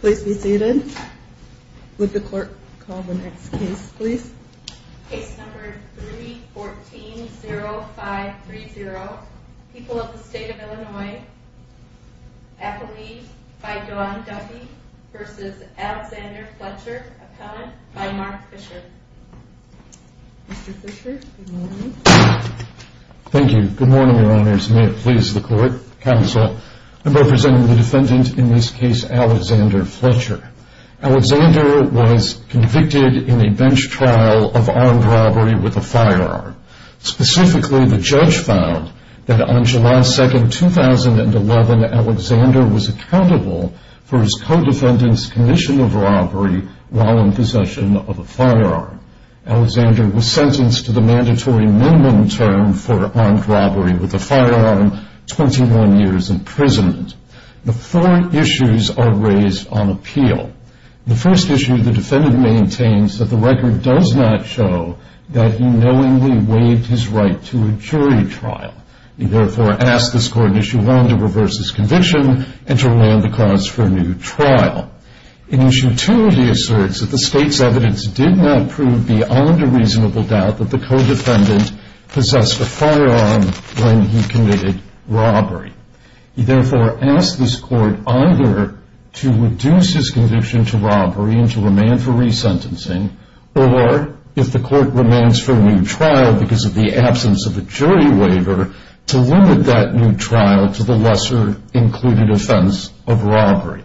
Please be seated. Would the clerk call the next case, please? Case number 314-0530, People of the State of Illinois, Appellee by Dawn Duffy v. Alexander Fletcher, Appellant by Mark Fisher. Mr. Fisher, good morning. Thank you. Good morning, your honors. May it please the court, counsel. I'm representing the defendant in this case, Alexander Fletcher. Alexander was convicted in a bench trial of armed robbery with a firearm. Specifically, the judge found that on July 2, 2011, Alexander was accountable for his co-defendant's commission of robbery while in possession of a firearm. Alexander was sentenced to the mandatory minimum term for armed robbery with a firearm, 21 years imprisonment. The four issues are raised on appeal. The first issue, the defendant maintains that the record does not show that he knowingly waived his right to a jury trial. He therefore asks this court in Issue 1 to reverse his conviction and to land the cause for a new trial. In Issue 2, he asserts that the state's evidence did not prove beyond a reasonable doubt that the co-defendant possessed a firearm when he committed robbery. He therefore asks this court either to reduce his conviction to robbery and to remand for resentencing, or if the court remands for a new trial because of the absence of a jury waiver, to limit that new trial to the lesser included offense of robbery.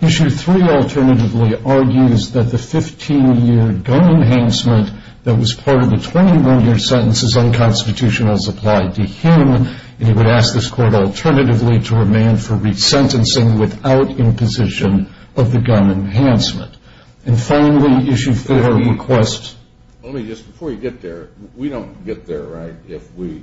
Issue 3 alternatively argues that the 15-year gun enhancement that was part of the 21-year sentence is unconstitutional as applied to him, and he would ask this court alternatively to remand for resentencing without imposition of the gun enhancement. And finally, Issue 4 requests... Let me just, before you get there, we don't get there, right, if we,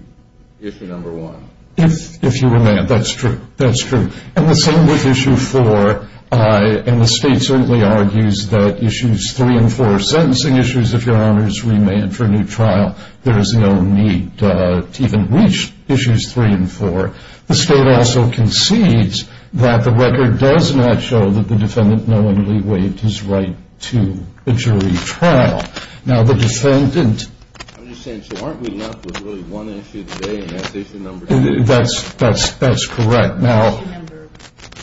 Issue 1? If you remand, that's true, that's true. And the same with Issue 4, and the state certainly argues that Issues 3 and 4 are sentencing issues. If your honor is remanded for a new trial, there is no need to even reach Issues 3 and 4. The state also concedes that the record does not show that the defendant knowingly waived his right to a jury trial. Now, the defendant... I'm just saying, so aren't we left with really one issue today, and that's Issue Number 2? That's correct. Issue Number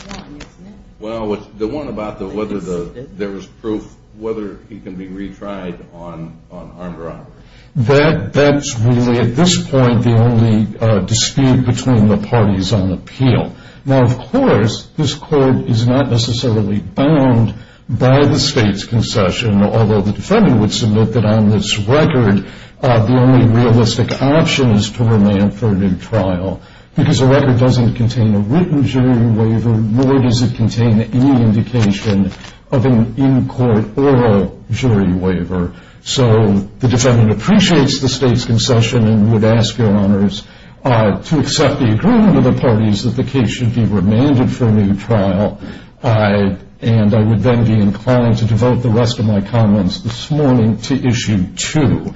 1, isn't it? Well, the one about whether there was proof, whether he can be retried on armed robbery. That's really, at this point, the only dispute between the parties on appeal. Now, of course, this court is not necessarily bound by the state's concession, although the defendant would submit that on this record the only realistic option is to remand for a new trial, because the record doesn't contain a written jury waiver, nor does it contain any indication of an in-court oral jury waiver. So the defendant appreciates the state's concession and would ask your honors to accept the agreement of the parties that the case should be remanded for a new trial. And I would then be inclined to devote the rest of my comments this morning to Issue 2.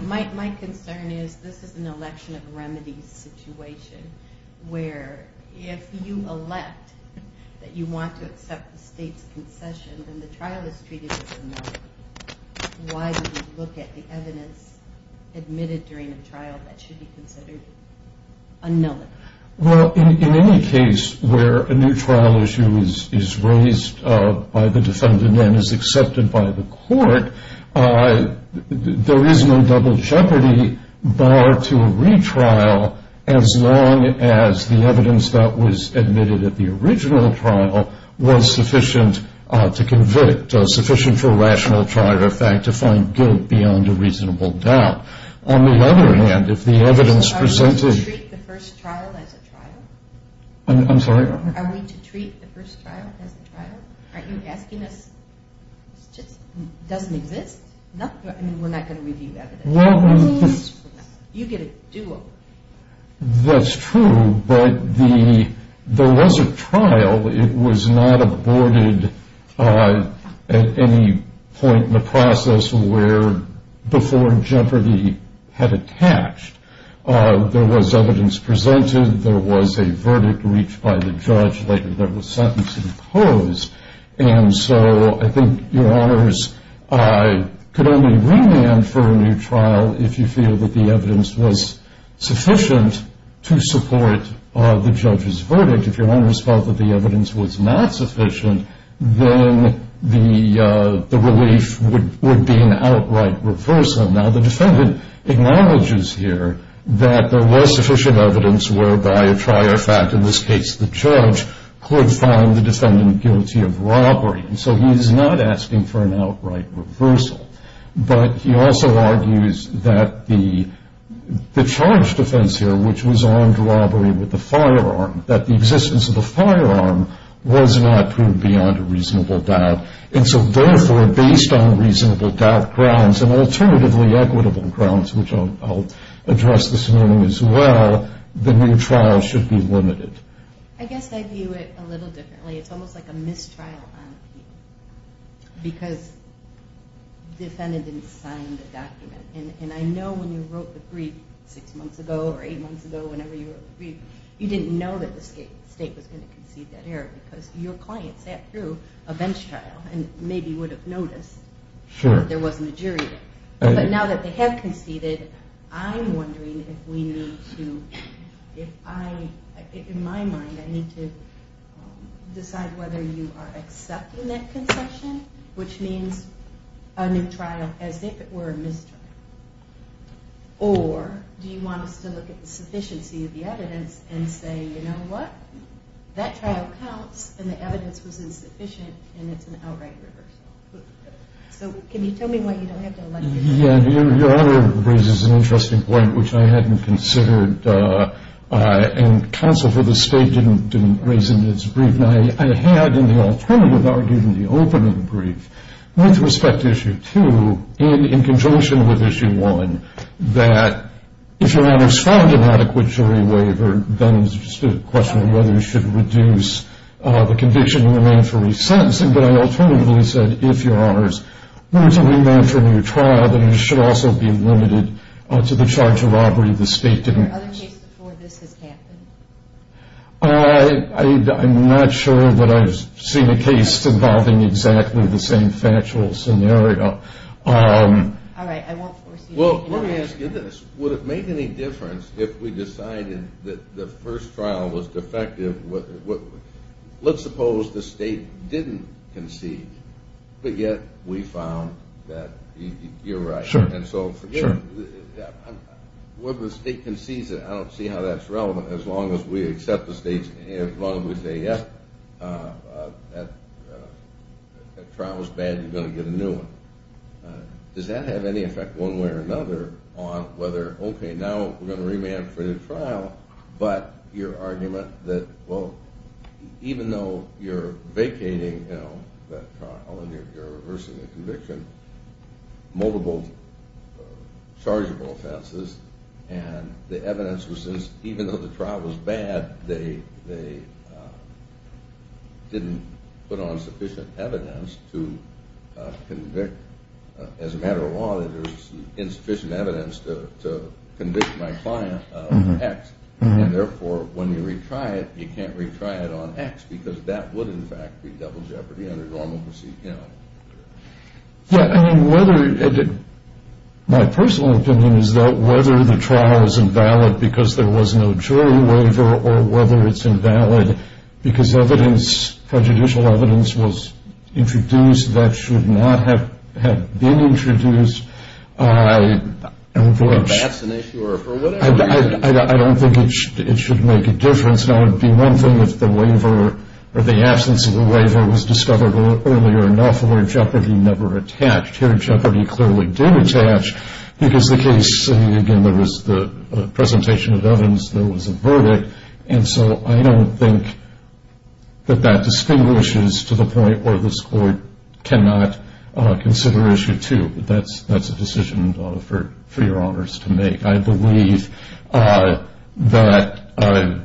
My concern is this is an election of remedies situation, where if you elect that you want to accept the state's concession, then the trial is treated as a nullity. Why would you look at the evidence admitted during a trial that should be considered a nullity? Well, in any case where a new trial issue is raised by the defendant and is accepted by the court, there is no double jeopardy, barred to a retrial, as long as the evidence that was admitted at the original trial was sufficient to convict, sufficient for a rational trial, in fact, to find guilt beyond a reasonable doubt. On the other hand, if the evidence presented… So are we to treat the first trial as a trial? I'm sorry? Are we to treat the first trial as a trial? Aren't you asking us? It just doesn't exist. I mean, we're not going to review the evidence. You get a do-over. That's true, but there was a trial. It was not aborted at any point in the process before jeopardy had attached. There was evidence presented. There was a verdict reached by the judge. There was sentencing posed. And so I think your honors could only remand for a new trial if you feel that the evidence was sufficient to support the judge's verdict. If your honors felt that the evidence was not sufficient, then the relief would be an outright reversal. Now, the defendant acknowledges here that there was sufficient evidence whereby a trial, in fact, in this case the judge, could find the defendant guilty of robbery. And so he's not asking for an outright reversal. But he also argues that the charge defense here, which was armed robbery with a firearm, that the existence of the firearm was not proved beyond a reasonable doubt. And so therefore, based on reasonable doubt grounds and alternatively equitable grounds, which I'll address this morning as well, the new trial should be limited. I guess I view it a little differently. It's almost like a mistrial on appeal because the defendant didn't sign the document. And I know when you wrote the brief six months ago or eight months ago, whenever you wrote the brief, you didn't know that the state was going to concede that error because your client sat through a bench trial and maybe would have noticed that there wasn't a jury there. But now that they have conceded, I'm wondering if we need to decide whether you are accepting that concession, which means a new trial as if it were a mistrial, or do you want us to look at the sufficiency of the evidence and say, you know what, that trial counts and the evidence was insufficient and it's an outright reversal. So can you tell me why you don't have to elect a jury? Yeah, your other brief raises an interesting point, which I hadn't considered and counsel for the state didn't raise in its brief. And I had in the alternative argued in the opening brief with respect to Issue 2 in conjunction with Issue 1, that if your honors found an adequate jury waiver, then it's just a question of whether you should reduce the conviction and remain for re-sentencing. But I alternatively said if your honors wanted to remain for a new trial, then you should also be limited to the charge of robbery. The state didn't. Are there other cases before this has happened? I'm not sure that I've seen a case involving exactly the same factual scenario. All right. I won't force you. Well, let me ask you this. Would it make any difference if we decided that the first trial was defective? Let's suppose the state didn't concede, but yet we found that you're right. Sure. And so whether the state concedes it, I don't see how that's relevant as long as we accept the state's, as long as we say, that trial was bad, you're going to get a new one. Does that have any effect one way or another on whether, okay, now we're going to remain for the trial, but your argument that, well, even though you're vacating that trial and you're reversing the conviction, multiple chargeable offenses, and the evidence was since even though the trial was bad, they didn't put on sufficient evidence to convict, as a matter of law, that there's insufficient evidence to convict my client of X. And therefore, when you retry it, you can't retry it on X because that would, in fact, be double jeopardy under normal procedure. Yeah. I mean, whether, my personal opinion is that whether the trial is invalid because there was no jury waiver or whether it's invalid because evidence, prejudicial evidence was introduced that should not have been introduced, I don't think it should make a difference. Now, it would be one thing if the waiver or the absence of a waiver was discovered earlier enough where jeopardy never attached. Here, jeopardy clearly did attach because the case, again, there was the presentation of evidence, there was a verdict, and so I don't think that that distinguishes to the point where this court cannot consider Issue 2. That's a decision for your honors to make. I believe that the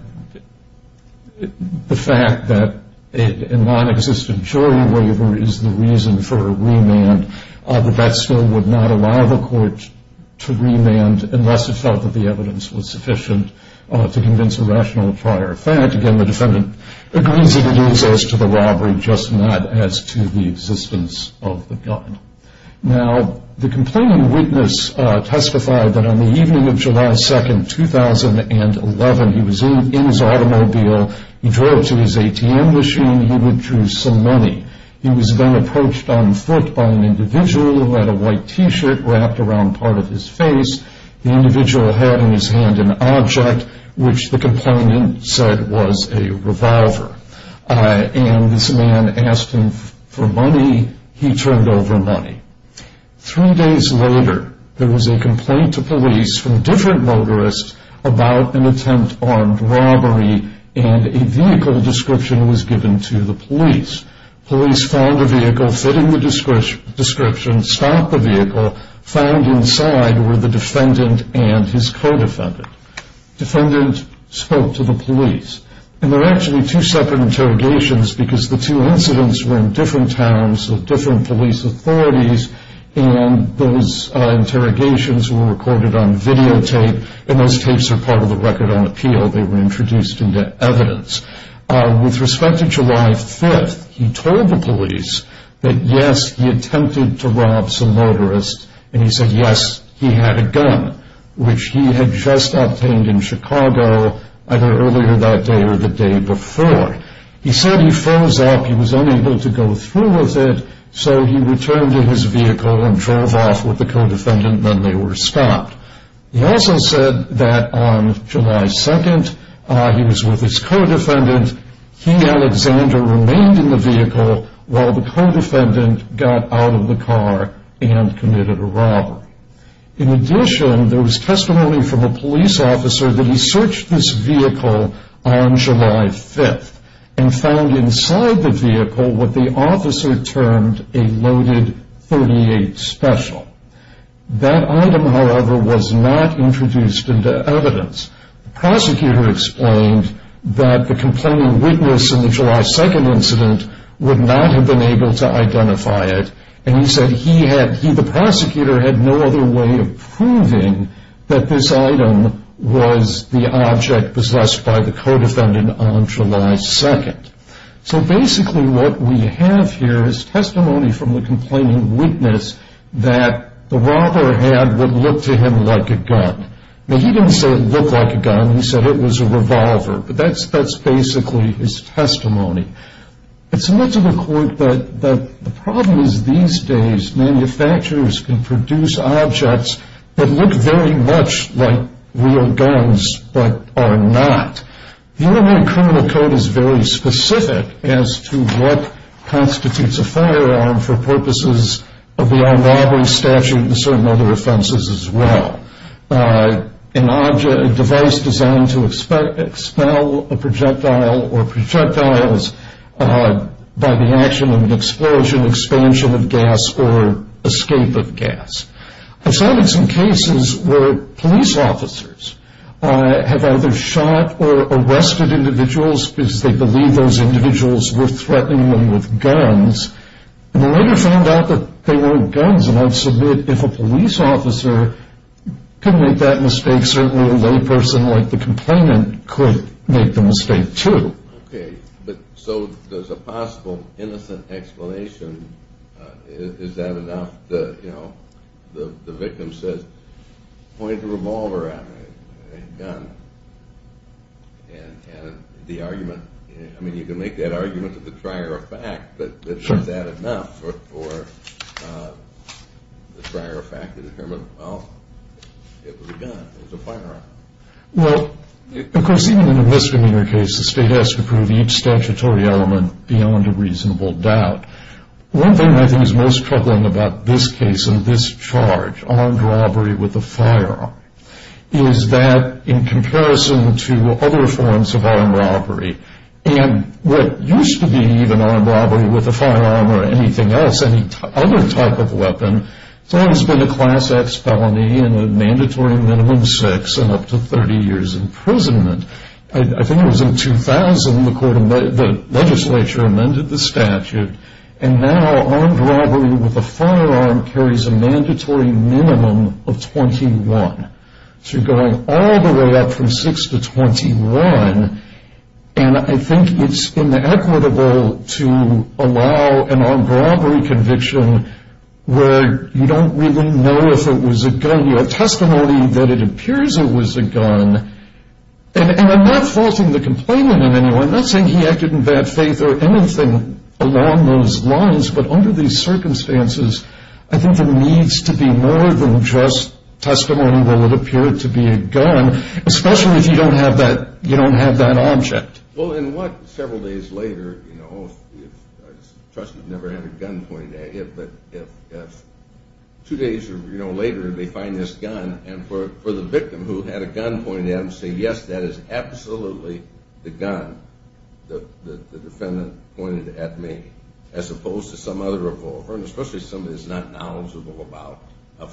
fact that a non-existent jury waiver is the reason for a remand, that that still would not allow the court to remand unless it felt that the evidence was sufficient to convince a rational prior effect. Again, the defendant agrees that it is as to the robbery, just not as to the existence of the gun. Now, the complaining witness testified that on the evening of July 2, 2011, he was in his automobile. He drove to his ATM machine. He withdrew some money. He was then approached on foot by an individual who had a white T-shirt wrapped around part of his face. The individual had in his hand an object which the complainant said was a revolver, and this man asked him for money. He turned over money. Three days later, there was a complaint to police from different motorists about an attempt on robbery, and a vehicle description was given to the police. Police found a vehicle fitting the description, stopped the vehicle, found inside were the defendant and his co-defendant. The defendant spoke to the police, and there were actually two separate interrogations because the two incidents were in different towns of different police authorities, and those interrogations were recorded on videotape, and those tapes are part of the record on appeal. They were introduced into evidence. With respect to July 5, he told the police that, yes, he attempted to rob some motorists, and he said, yes, he had a gun, which he had just obtained in Chicago, either earlier that day or the day before. He said he froze up. He was unable to go through with it, so he returned to his vehicle and drove off with the co-defendant, and then they were stopped. He also said that on July 2, he was with his co-defendant. He, Alexander, remained in the vehicle while the co-defendant got out of the car and committed a robbery. In addition, there was testimony from a police officer that he searched this vehicle on July 5 and found inside the vehicle what the officer termed a loaded .38 special. That item, however, was not introduced into evidence. The prosecutor explained that the complaining witness in the July 2 incident would not have been able to identify it, and he said the prosecutor had no other way of proving that this item was the object possessed by the co-defendant on July 2. So basically what we have here is testimony from the complaining witness that the robber had what looked to him like a gun. Now, he didn't say it looked like a gun. He said it was a revolver, but that's basically his testimony. It's made to the court that the problem is these days manufacturers can produce objects that look very much like real guns but are not. The Illinois Criminal Code is very specific as to what constitutes a firearm for purposes of the armed robbery statute and certain other offenses as well. A device designed to expel a projectile or projectiles by the action of an explosion, expansion of gas, or escape of gas. I've cited some cases where police officers have either shot or arrested individuals because they believe those individuals were threatening them with guns, and they later found out that they weren't guns, and I'd submit if a police officer could make that mistake, certainly a layperson like the complainant could make the mistake too. Okay, but so there's a possible innocent explanation. Is that enough? The victim says, point the revolver at me, a gun. And the argument, I mean you can make that argument to the trier of fact, but is that enough for the trier of fact to determine, well, it was a gun. It was a firearm. Well, of course even in a misdemeanor case, the state has to prove each statutory element beyond a reasonable doubt. One thing I think is most troubling about this case and this charge, armed robbery with a firearm, is that in comparison to other forms of armed robbery, and what used to be even armed robbery with a firearm or anything else, any other type of weapon, has always been a class X felony and a mandatory minimum six and up to 30 years imprisonment. I think it was in 2000 the legislature amended the statute, and now armed robbery with a firearm carries a mandatory minimum of 21. So you're going all the way up from six to 21, and I think it's inequitable to allow an armed robbery conviction where you don't really know if it was a gun. You have testimony that it appears it was a gun, and I'm not faulting the complainant in any way. I'm not saying he acted in bad faith or anything along those lines, but under these circumstances I think there needs to be more than just testimony that it appeared to be a gun, especially if you don't have that object. Well, several days later, I trust you've never had a gun pointed at you, but two days later they find this gun, and for the victim who had a gun pointed at him to say, yes, that is absolutely the gun the defendant pointed at me, as opposed to some other revolver, and especially somebody who's not knowledgeable about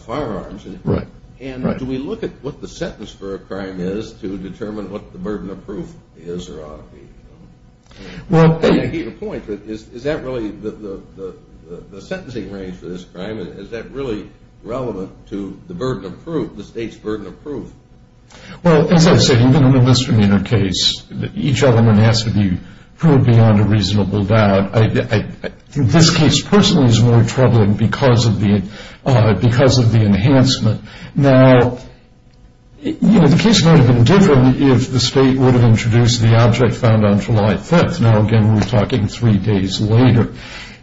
firearms. Right. And do we look at what the sentence for a crime is to determine what the burden of proof is or ought to be? Well, And I get your point, but is that really the sentencing range for this crime? Is that really relevant to the burden of proof, the state's burden of proof? Well, as I say, even in a misdemeanor case, each element has to be proved beyond a reasonable doubt. This case personally is more troubling because of the enhancement. Now, you know, the case might have been different if the state would have introduced the object found on July 5th. Now, again, we're talking three days later.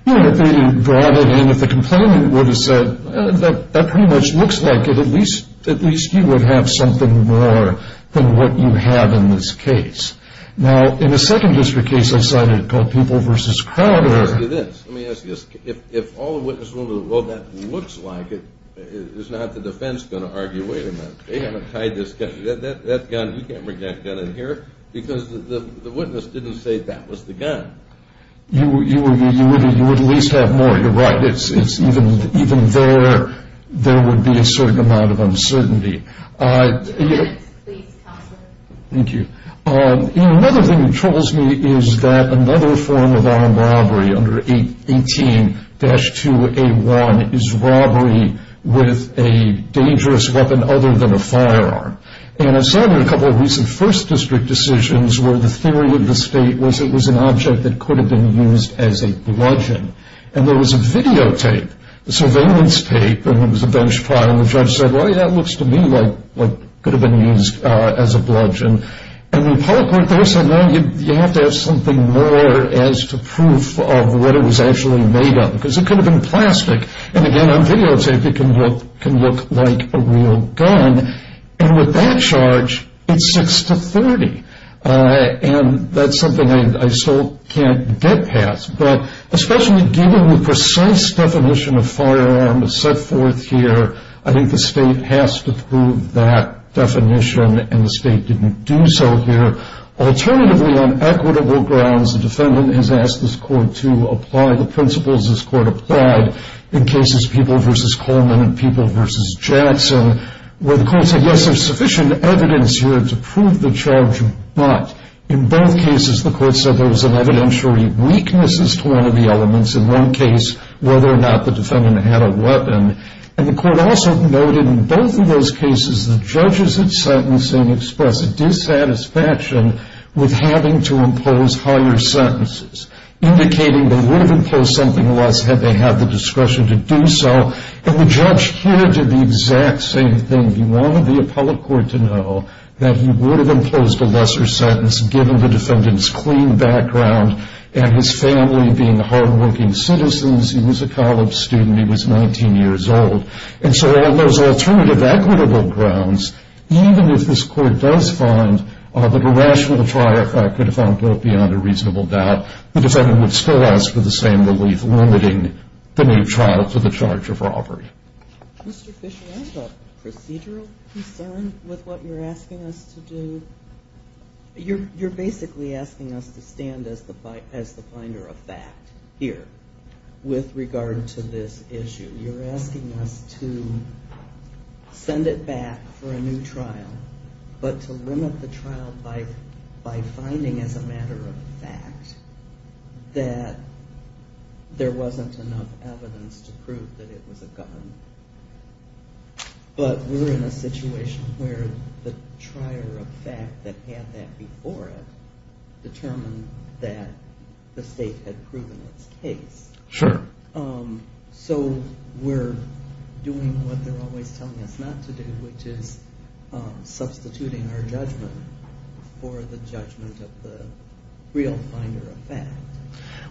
You know, if they had brought it in, if the complainant would have said, That pretty much looks like it. At least you would have something more than what you have in this case. Now, in a second district case I cited called People v. Crowder, Let me ask you this. If all the witnesses in the world said that looks like it, is not the defense going to argue, wait a minute, they haven't tied this gun. That gun, you can't bring that gun in here because the witness didn't say that was the gun. You would at least have more. You're right. Even there, there would be a certain amount of uncertainty. Two minutes, please, counselor. Thank you. Another thing that troubles me is that another form of armed robbery under 18-2A1 is robbery with a dangerous weapon other than a firearm. And I saw in a couple of recent first district decisions where the theory of the state was it was an object that could have been used as a bludgeon. And there was a videotape, a surveillance tape, and it was a bench pile. And the judge said, well, yeah, it looks to me like it could have been used as a bludgeon. And the public worked there and said, no, you have to have something more as to proof of what it was actually made of because it could have been plastic. And, again, on videotape it can look like a real gun. And with that charge, it's 6-30. And that's something I still can't get past. But especially given the precise definition of firearm set forth here, I think the state has to prove that definition, and the state didn't do so here. Alternatively, on equitable grounds, the defendant has asked this court to apply the principles this court applied in cases People v. Coleman and People v. Jackson, where the court said, yes, there's sufficient evidence here to prove the charge, but in both cases the court said there was evidentiary weaknesses to one of the elements. In one case, whether or not the defendant had a weapon. And the court also noted in both of those cases the judges in sentencing expressed a dissatisfaction with having to impose higher sentences, indicating they would have imposed something less had they had the discretion to do so. And the judge here did the exact same thing. He wanted the appellate court to know that he would have imposed a lesser sentence given the defendant's clean background and his family being hardworking citizens. He was a college student. He was 19 years old. And so on those alternative equitable grounds, even if this court does find that a rational trial could have gone beyond a reasonable doubt, the defendant would still ask for the same relief limiting the new trial to the charge of robbery. Mr. Fisher, I have a procedural concern with what you're asking us to do. You're basically asking us to stand as the finder of fact here with regard to this issue. You're asking us to send it back for a new trial, but to limit the trial by finding as a matter of fact that there wasn't enough evidence to prove that it was a gun. But we're in a situation where the trier of fact that had that before it determined that the state had proven its case. Sure. So we're doing what they're always telling us not to do, which is substituting our judgment for the judgment of the real finder of fact.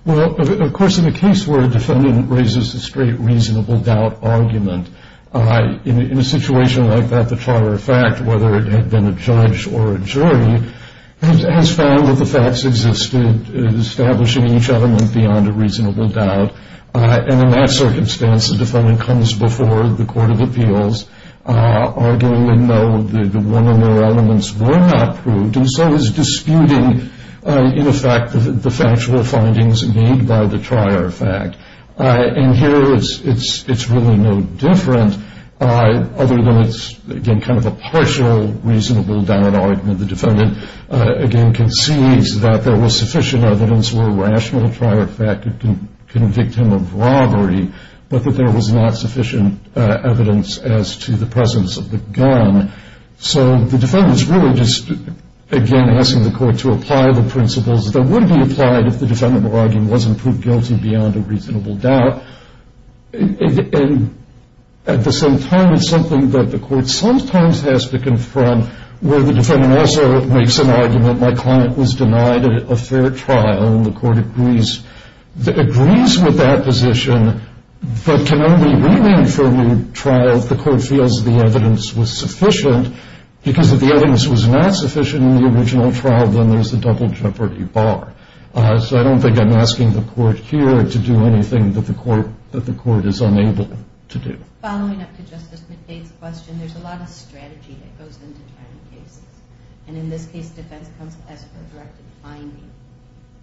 Well, of course, in a case where a defendant raises a straight reasonable doubt argument, in a situation like that, the trier of fact, whether it had been a judge or a jury, has found that the facts existed, establishing each element beyond a reasonable doubt. And in that circumstance, the defendant comes before the court of appeals, arguing they know that one of their elements were not proved, and so is disputing, in effect, the factual findings made by the trier of fact. And here it's really no different, other than it's, again, kind of a partial reasonable doubt argument. The defendant, again, concedes that there was sufficient evidence for a rational trier of fact to convict him of robbery, but that there was not sufficient evidence as to the presence of the gun. So the defendant's really just, again, asking the court to apply the principles that would be applied if the defendant were arguing it wasn't proved guilty beyond a reasonable doubt. And at the same time, it's something that the court sometimes has to confront, where the defendant also makes an argument, my client was denied a fair trial, and the court agrees with that position, but can only remain for a new trial if the court feels the evidence was sufficient. Because if the evidence was not sufficient in the original trial, then there's a double jeopardy bar. So I don't think I'm asking the court here to do anything that the court is unable to do. Following up to Justice McDade's question, there's a lot of strategy that goes into trial cases. And in this case, defense comes to ask for a directed finding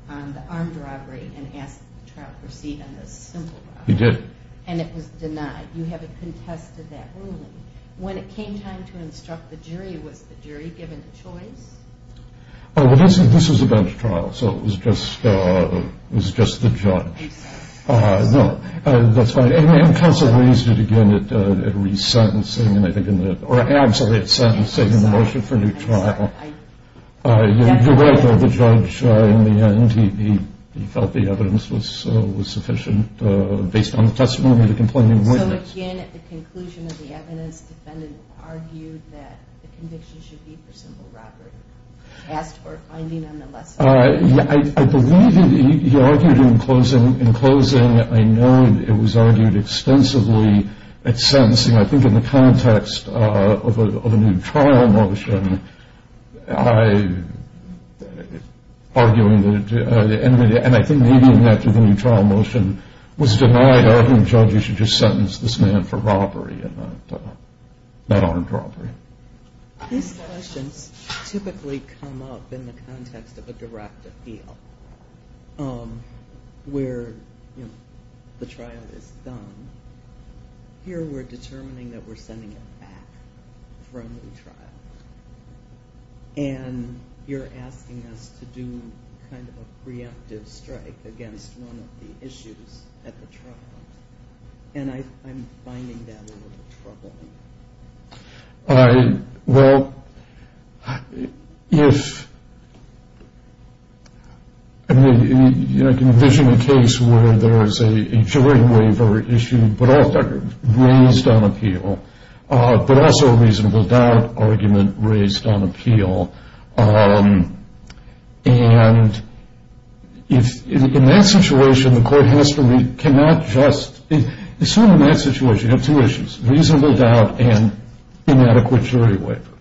on the armed robbery and asks the trial proceed on the simple robbery. He did. And it was denied. You haven't contested that ruling. When it came time to instruct the jury, was the jury given a choice? Well, this was a bench trial, so it was just the judge. I'm sorry. No, that's fine. And counsel raised it again at resentencing, or absolutely at sentencing, in the motion for a new trial. You're right, though. The judge, in the end, he felt the evidence was sufficient based on the testimony of the complainant witness. So, again, at the conclusion of the evidence, the defendant argued that the conviction should be for simple robbery, asked for a finding on the lesson. I believe he argued in closing. In closing, I know it was argued extensively at sentencing. I think in the context of a new trial motion, I, arguing, and I think leading that to the new trial motion, was denied arguing judges should just sentence this man for robbery and not armed robbery. These questions typically come up in the context of a direct appeal where the trial is done. Here we're determining that we're sending him back for a new trial, and you're asking us to do kind of a preemptive strike against one of the issues at the trial, and I'm finding that a little troubling. Well, if you're envisioning a case where there's a jury waiver issue, but also raised on appeal, but also a reasonable doubt argument raised on appeal, and if, in that situation, the court has to read, cannot just, in sort of that situation, you have two issues, reasonable doubt and inadequate jury waiver.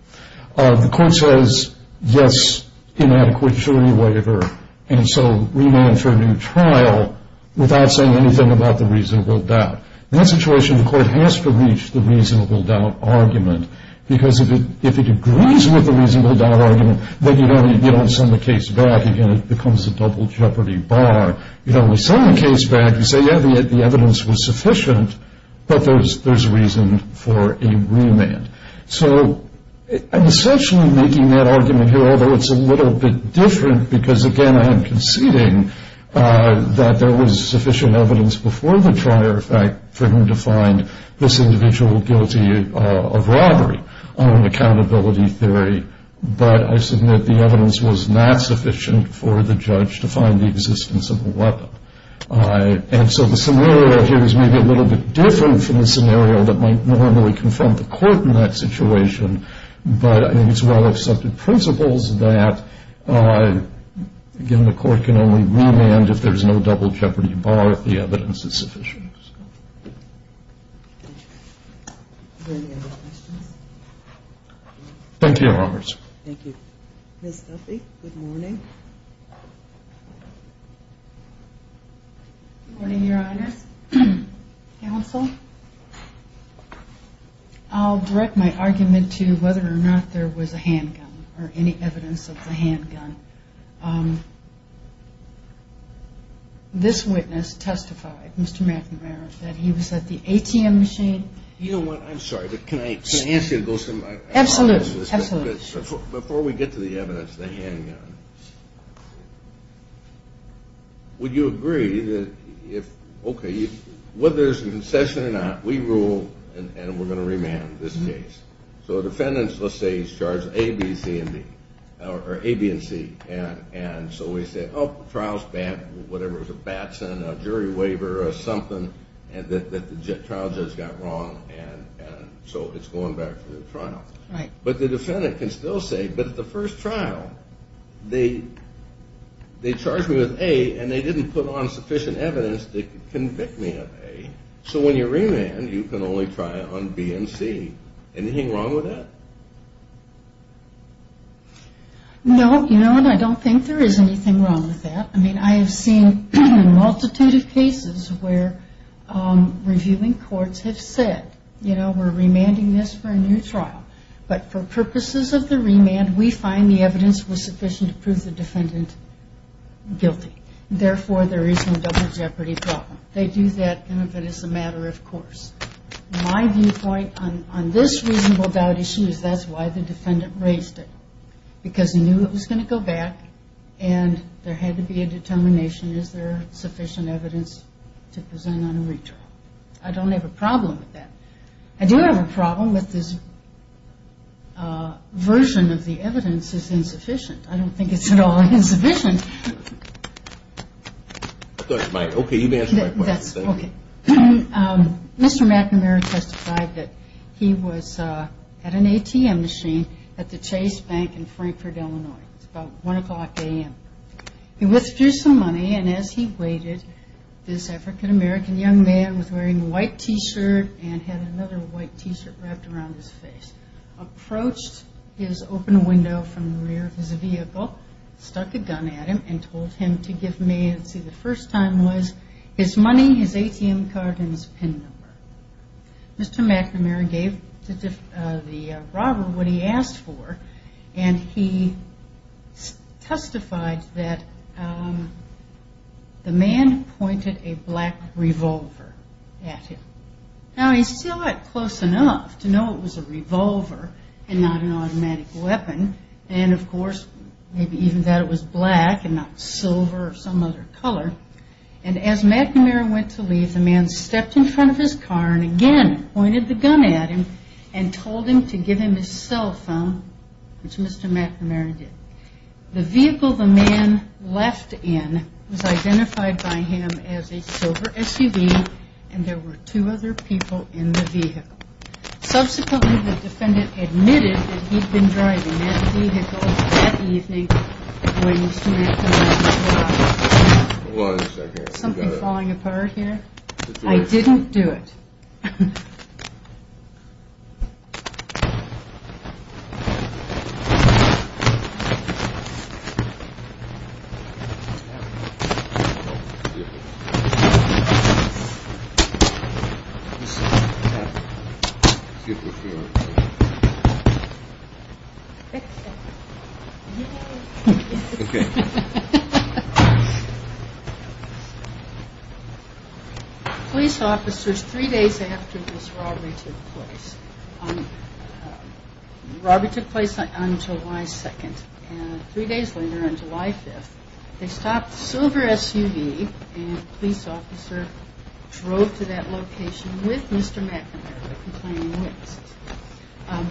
The court says, yes, inadequate jury waiver, and so remand for a new trial without saying anything about the reasonable doubt. In that situation, the court has to reach the reasonable doubt argument because if it agrees with the reasonable doubt argument, then you don't send the case back. Again, it becomes a double jeopardy bar. You don't send the case back and say, yeah, the evidence was sufficient, but there's reason for a remand. So I'm essentially making that argument here, although it's a little bit different because, again, I am conceding that there was sufficient evidence before the trial, in fact, for him to find this individual guilty of robbery on an accountability theory, but I submit the evidence was not sufficient for the judge to find the existence of a weapon. And so the scenario here is maybe a little bit different from the scenario that might normally confront the court in that situation, but it's well-accepted principles that, again, the court can only remand if there's no double jeopardy bar if the evidence is sufficient. Any other questions? Thank you, Your Honors. Thank you. Ms. Duffy, good morning. Good morning, Your Honors. Counsel, I'll direct my argument to whether or not there was a handgun or any evidence of the handgun. This witness testified, Mr. McNamara, that he was at the ATM machine. You know what? I'm sorry, but can I ask you to go somewhere else? Absolutely. Before we get to the evidence, the handgun, would you agree that if, okay, whether there's a concession or not, we rule and we're going to remand this case. So a defendant, let's say, is charged A, B, C, and D, or A, B, and C, and so we say, oh, the trial's bad, whatever, it was a Batson, a jury waiver, or something, that the trial judge got wrong, and so it's going back to the trial. Right. But the defendant can still say, but at the first trial they charged me with A and they didn't put on sufficient evidence to convict me of A. So when you remand, you can only try it on B and C. Anything wrong with that? No. You know what? I don't think there is anything wrong with that. I mean, I have seen a multitude of cases where reviewing courts have said, you know, we're remanding this for a new trial, but for purposes of the remand, we find the evidence was sufficient to prove the defendant guilty. Therefore, there is no double jeopardy problem. They do that as a matter of course. My viewpoint on this reasonable doubt issue is that's why the defendant raised it, because he knew it was going to go back and there had to be a determination is there sufficient evidence to present on a retrial. I don't have a problem with that. I do have a problem with this version of the evidence is insufficient. I don't think it's at all insufficient. I thought you might. Okay. You may answer my question. Okay. Mr. McNamara testified that he was at an ATM machine at the Chase Bank in Frankfort, Illinois. It was about 1 o'clock a.m. He withdrew some money, and as he waited, this African-American young man was wearing a white T-shirt and had another white T-shirt wrapped around his face, approached his open window from the rear of his vehicle, stuck a gun at him, and told him to give me, let's see, the first time was his money, his ATM card, and his PIN number. Mr. McNamara gave the robber what he asked for, and he testified that the man pointed a black revolver at him. Now, he saw it close enough to know it was a revolver and not an automatic weapon, and, of course, maybe even that it was black and not silver or some other color, and as McNamara went to leave, the man stepped in front of his car and again pointed the gun at him and told him to give him his cell phone, which Mr. McNamara did. The vehicle the man left in was identified by him as a silver SUV, and there were two other people in the vehicle. Subsequently, the defendant admitted that he'd been driving that vehicle that evening when he was shooting at the man's car. Was something falling apart here? I didn't do it. Excuse me for a second. Police officers, three days after this robbery took place, robbery took place on July 2nd, and three days later, on July 5th, they stopped a silver SUV, and a police officer drove to that location with Mr. McNamara, complaining of witnesses.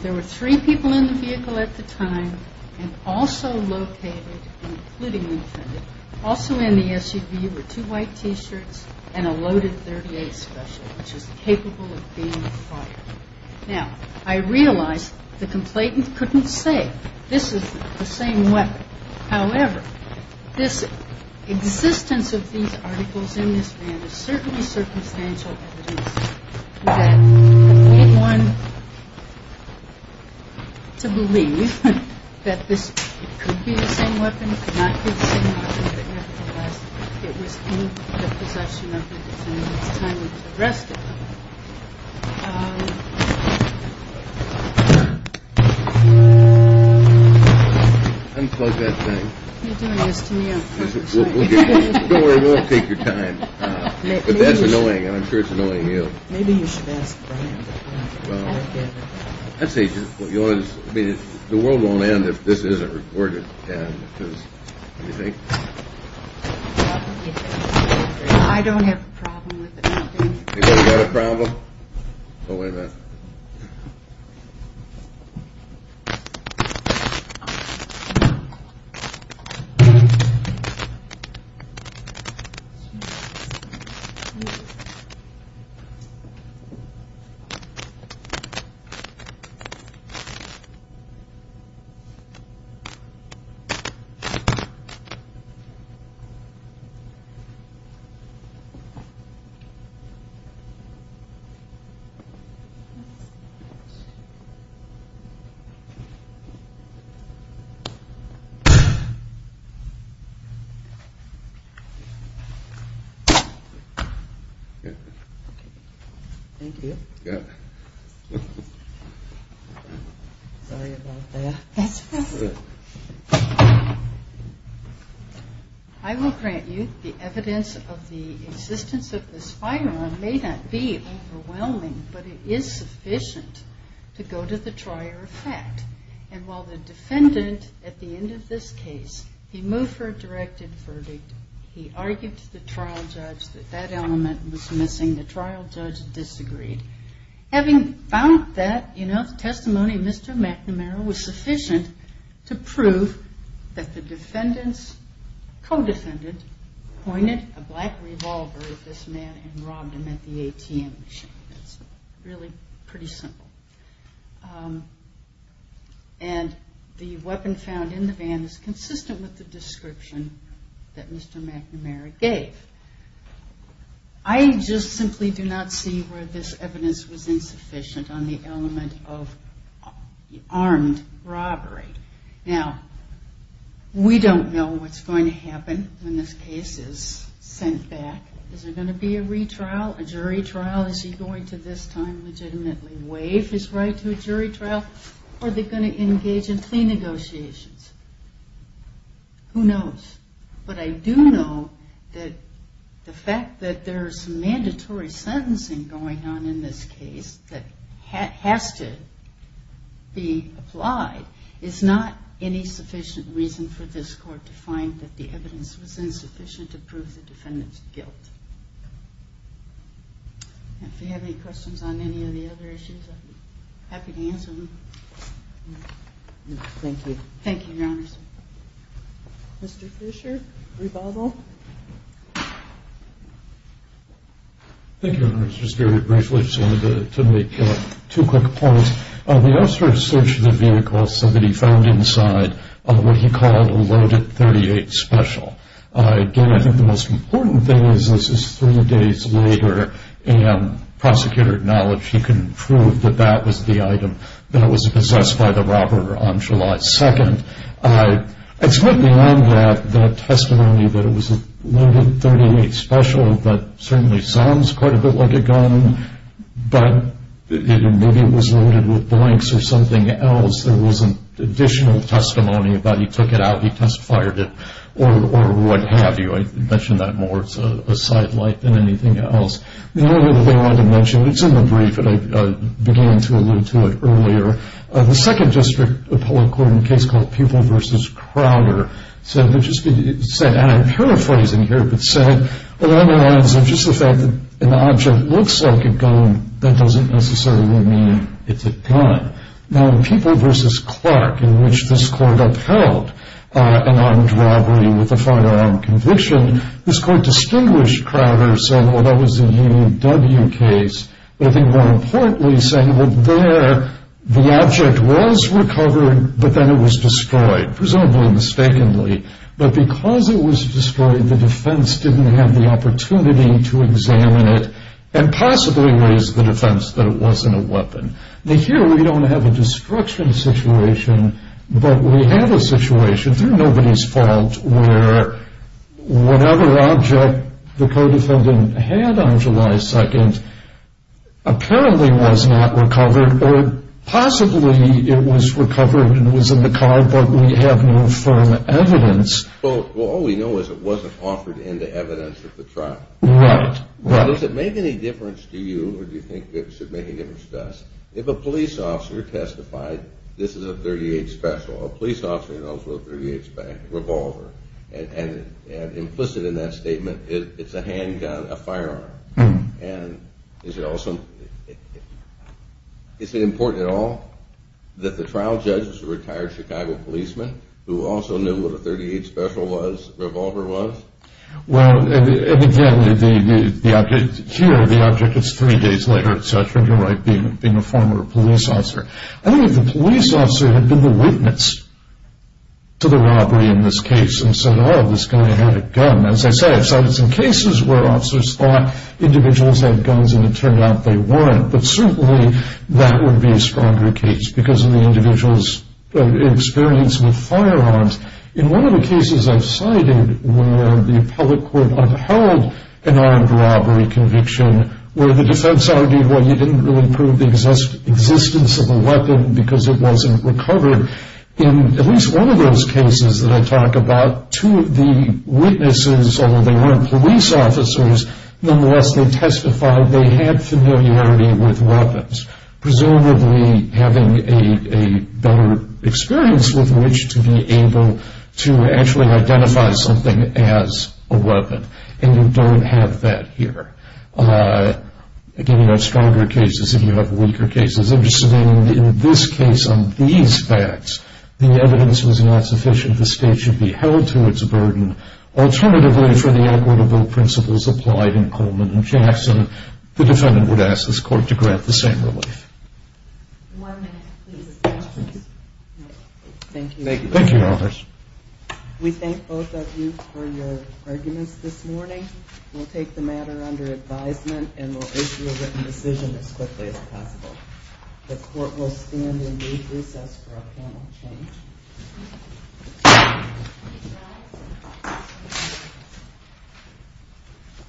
There were three people in the vehicle at the time, and also located, including the defendant, also in the SUV were two white T-shirts and a loaded .38 special, which was capable of being fired. Now, I realize the complainant couldn't say, this is the same weapon. However, this existence of these articles in this van is certainly circumstantial evidence that made one to believe that this could be the same weapon, could not be the same weapon, but nevertheless, it was in the possession of the defendant. It's time we addressed it. Um... Unplug that thing. You're doing this to me, aren't you? Don't worry, we'll take your time. But that's annoying, and I'm sure it's annoying you. Maybe you should ask Brian. Well, I'd say just what you want to... I mean, the world won't end if this isn't reported. What do you think? I don't have a problem with it. You don't have a problem? What was that? I will grant you the evidence of the existence of this firearm, may not be overwhelming, but it is sufficient to go to the trier of fact. And while the defendant, at the end of this case, he moved for a directed verdict, he argued to the trial judge that that element was missing. The trial judge disagreed. Having found that enough testimony, Mr. McNamara was sufficient to prove that the defendant's co-defendant pointed a black revolver at this man and robbed him at the ATM machine. It's really pretty simple. And the weapon found in the van is consistent with the description that Mr. McNamara gave. I just simply do not see where this evidence was insufficient on the element of armed robbery. Now, we don't know what's going to happen when this case is sent back. Is there going to be a retrial, a jury trial? Is he going to this time legitimately waive his right to a jury trial? Are they going to engage in plea negotiations? Who knows? But I do know that the fact that there's mandatory sentencing going on in this case that has to be applied is not any sufficient reason for this Court to find that the evidence was insufficient to prove the defendant's guilt. If you have any questions on any of the other issues, I'd be happy to answer them. Thank you. Thank you, Your Honors. Mr. Fisher, rebuttal. Thank you, Your Honors. I just very briefly just wanted to make two quick points. The officer searched the vehicle so that he found inside what he called a loaded .38 special. Again, I think the most important thing is this is three days later, and the prosecutor acknowledged he couldn't prove that that was the item that was possessed by the robber on July 2nd. It's not beyond that testimony that it was a loaded .38 special that certainly sounds quite a bit like a gun, but maybe it was loaded with blanks or something else. There wasn't additional testimony about he took it out, he test-fired it, or what have you. I'd mention that more as a sidelight than anything else. The only other thing I wanted to mention, and it's in the brief, but I began to allude to it earlier, the Second District Appellate Court in a case called Pupil v. Crowder said, and I'm paraphrasing here, but said, along the lines of just the fact that an object looks like a gun, that doesn't necessarily mean it's a gun. Now, in Pupil v. Clark, in which this court upheld an armed robbery with a firearm conviction, this court distinguished Crowder saying, well, that was the UW case, but I think more importantly saying that there the object was recovered, but then it was destroyed, presumably mistakenly. But because it was destroyed, the defense didn't have the opportunity to examine it and possibly raise the defense that it wasn't a weapon. Now, here we don't have a destruction situation, but we have a situation, through nobody's fault, where whatever object the co-defendant had on July 2nd apparently was not recovered or possibly it was recovered and was in the car, but we have no firm evidence. Well, all we know is it wasn't offered into evidence at the trial. Right, right. Does it make any difference to you, or do you think it should make a difference to us, if a police officer testified, this is a .38 Special, a police officer knows we're a .38 revolver, and implicit in that statement, it's a handgun, a firearm. And is it also, is it important at all that the trial judge is a retired Chicago policeman who also knew what a .38 Special was, revolver was? Well, and again, here the object is three days later, etc., and you're right, being a former police officer. I think if the police officer had been the witness to the robbery in this case and said, oh, this guy had a gun, as I said, I've cited some cases where officers thought individuals had guns and it turned out they weren't, but certainly that would be a stronger case because of the individual's experience with firearms. In one of the cases I've cited where the public court upheld an armed robbery conviction where the defense argued, well, you didn't really prove the existence of the weapon because it wasn't recovered, in at least one of those cases that I talk about, two of the witnesses, although they weren't police officers, nonetheless they testified they had familiarity with weapons, presumably having a better experience with which to be able to actually identify something as a weapon. And you don't have that here. Again, you have stronger cases and you have weaker cases. In this case on these facts, the evidence was not sufficient. The state should be held to its burden. Alternatively, for the equitable principles applied in Coleman and Jackson, the defendant would ask this court to grant the same relief. One minute, please. Thank you. We thank both of you for your arguments this morning. We'll take the matter under advisement and we'll issue a written decision as quickly as possible. The court will stand and leave recess for a panel change.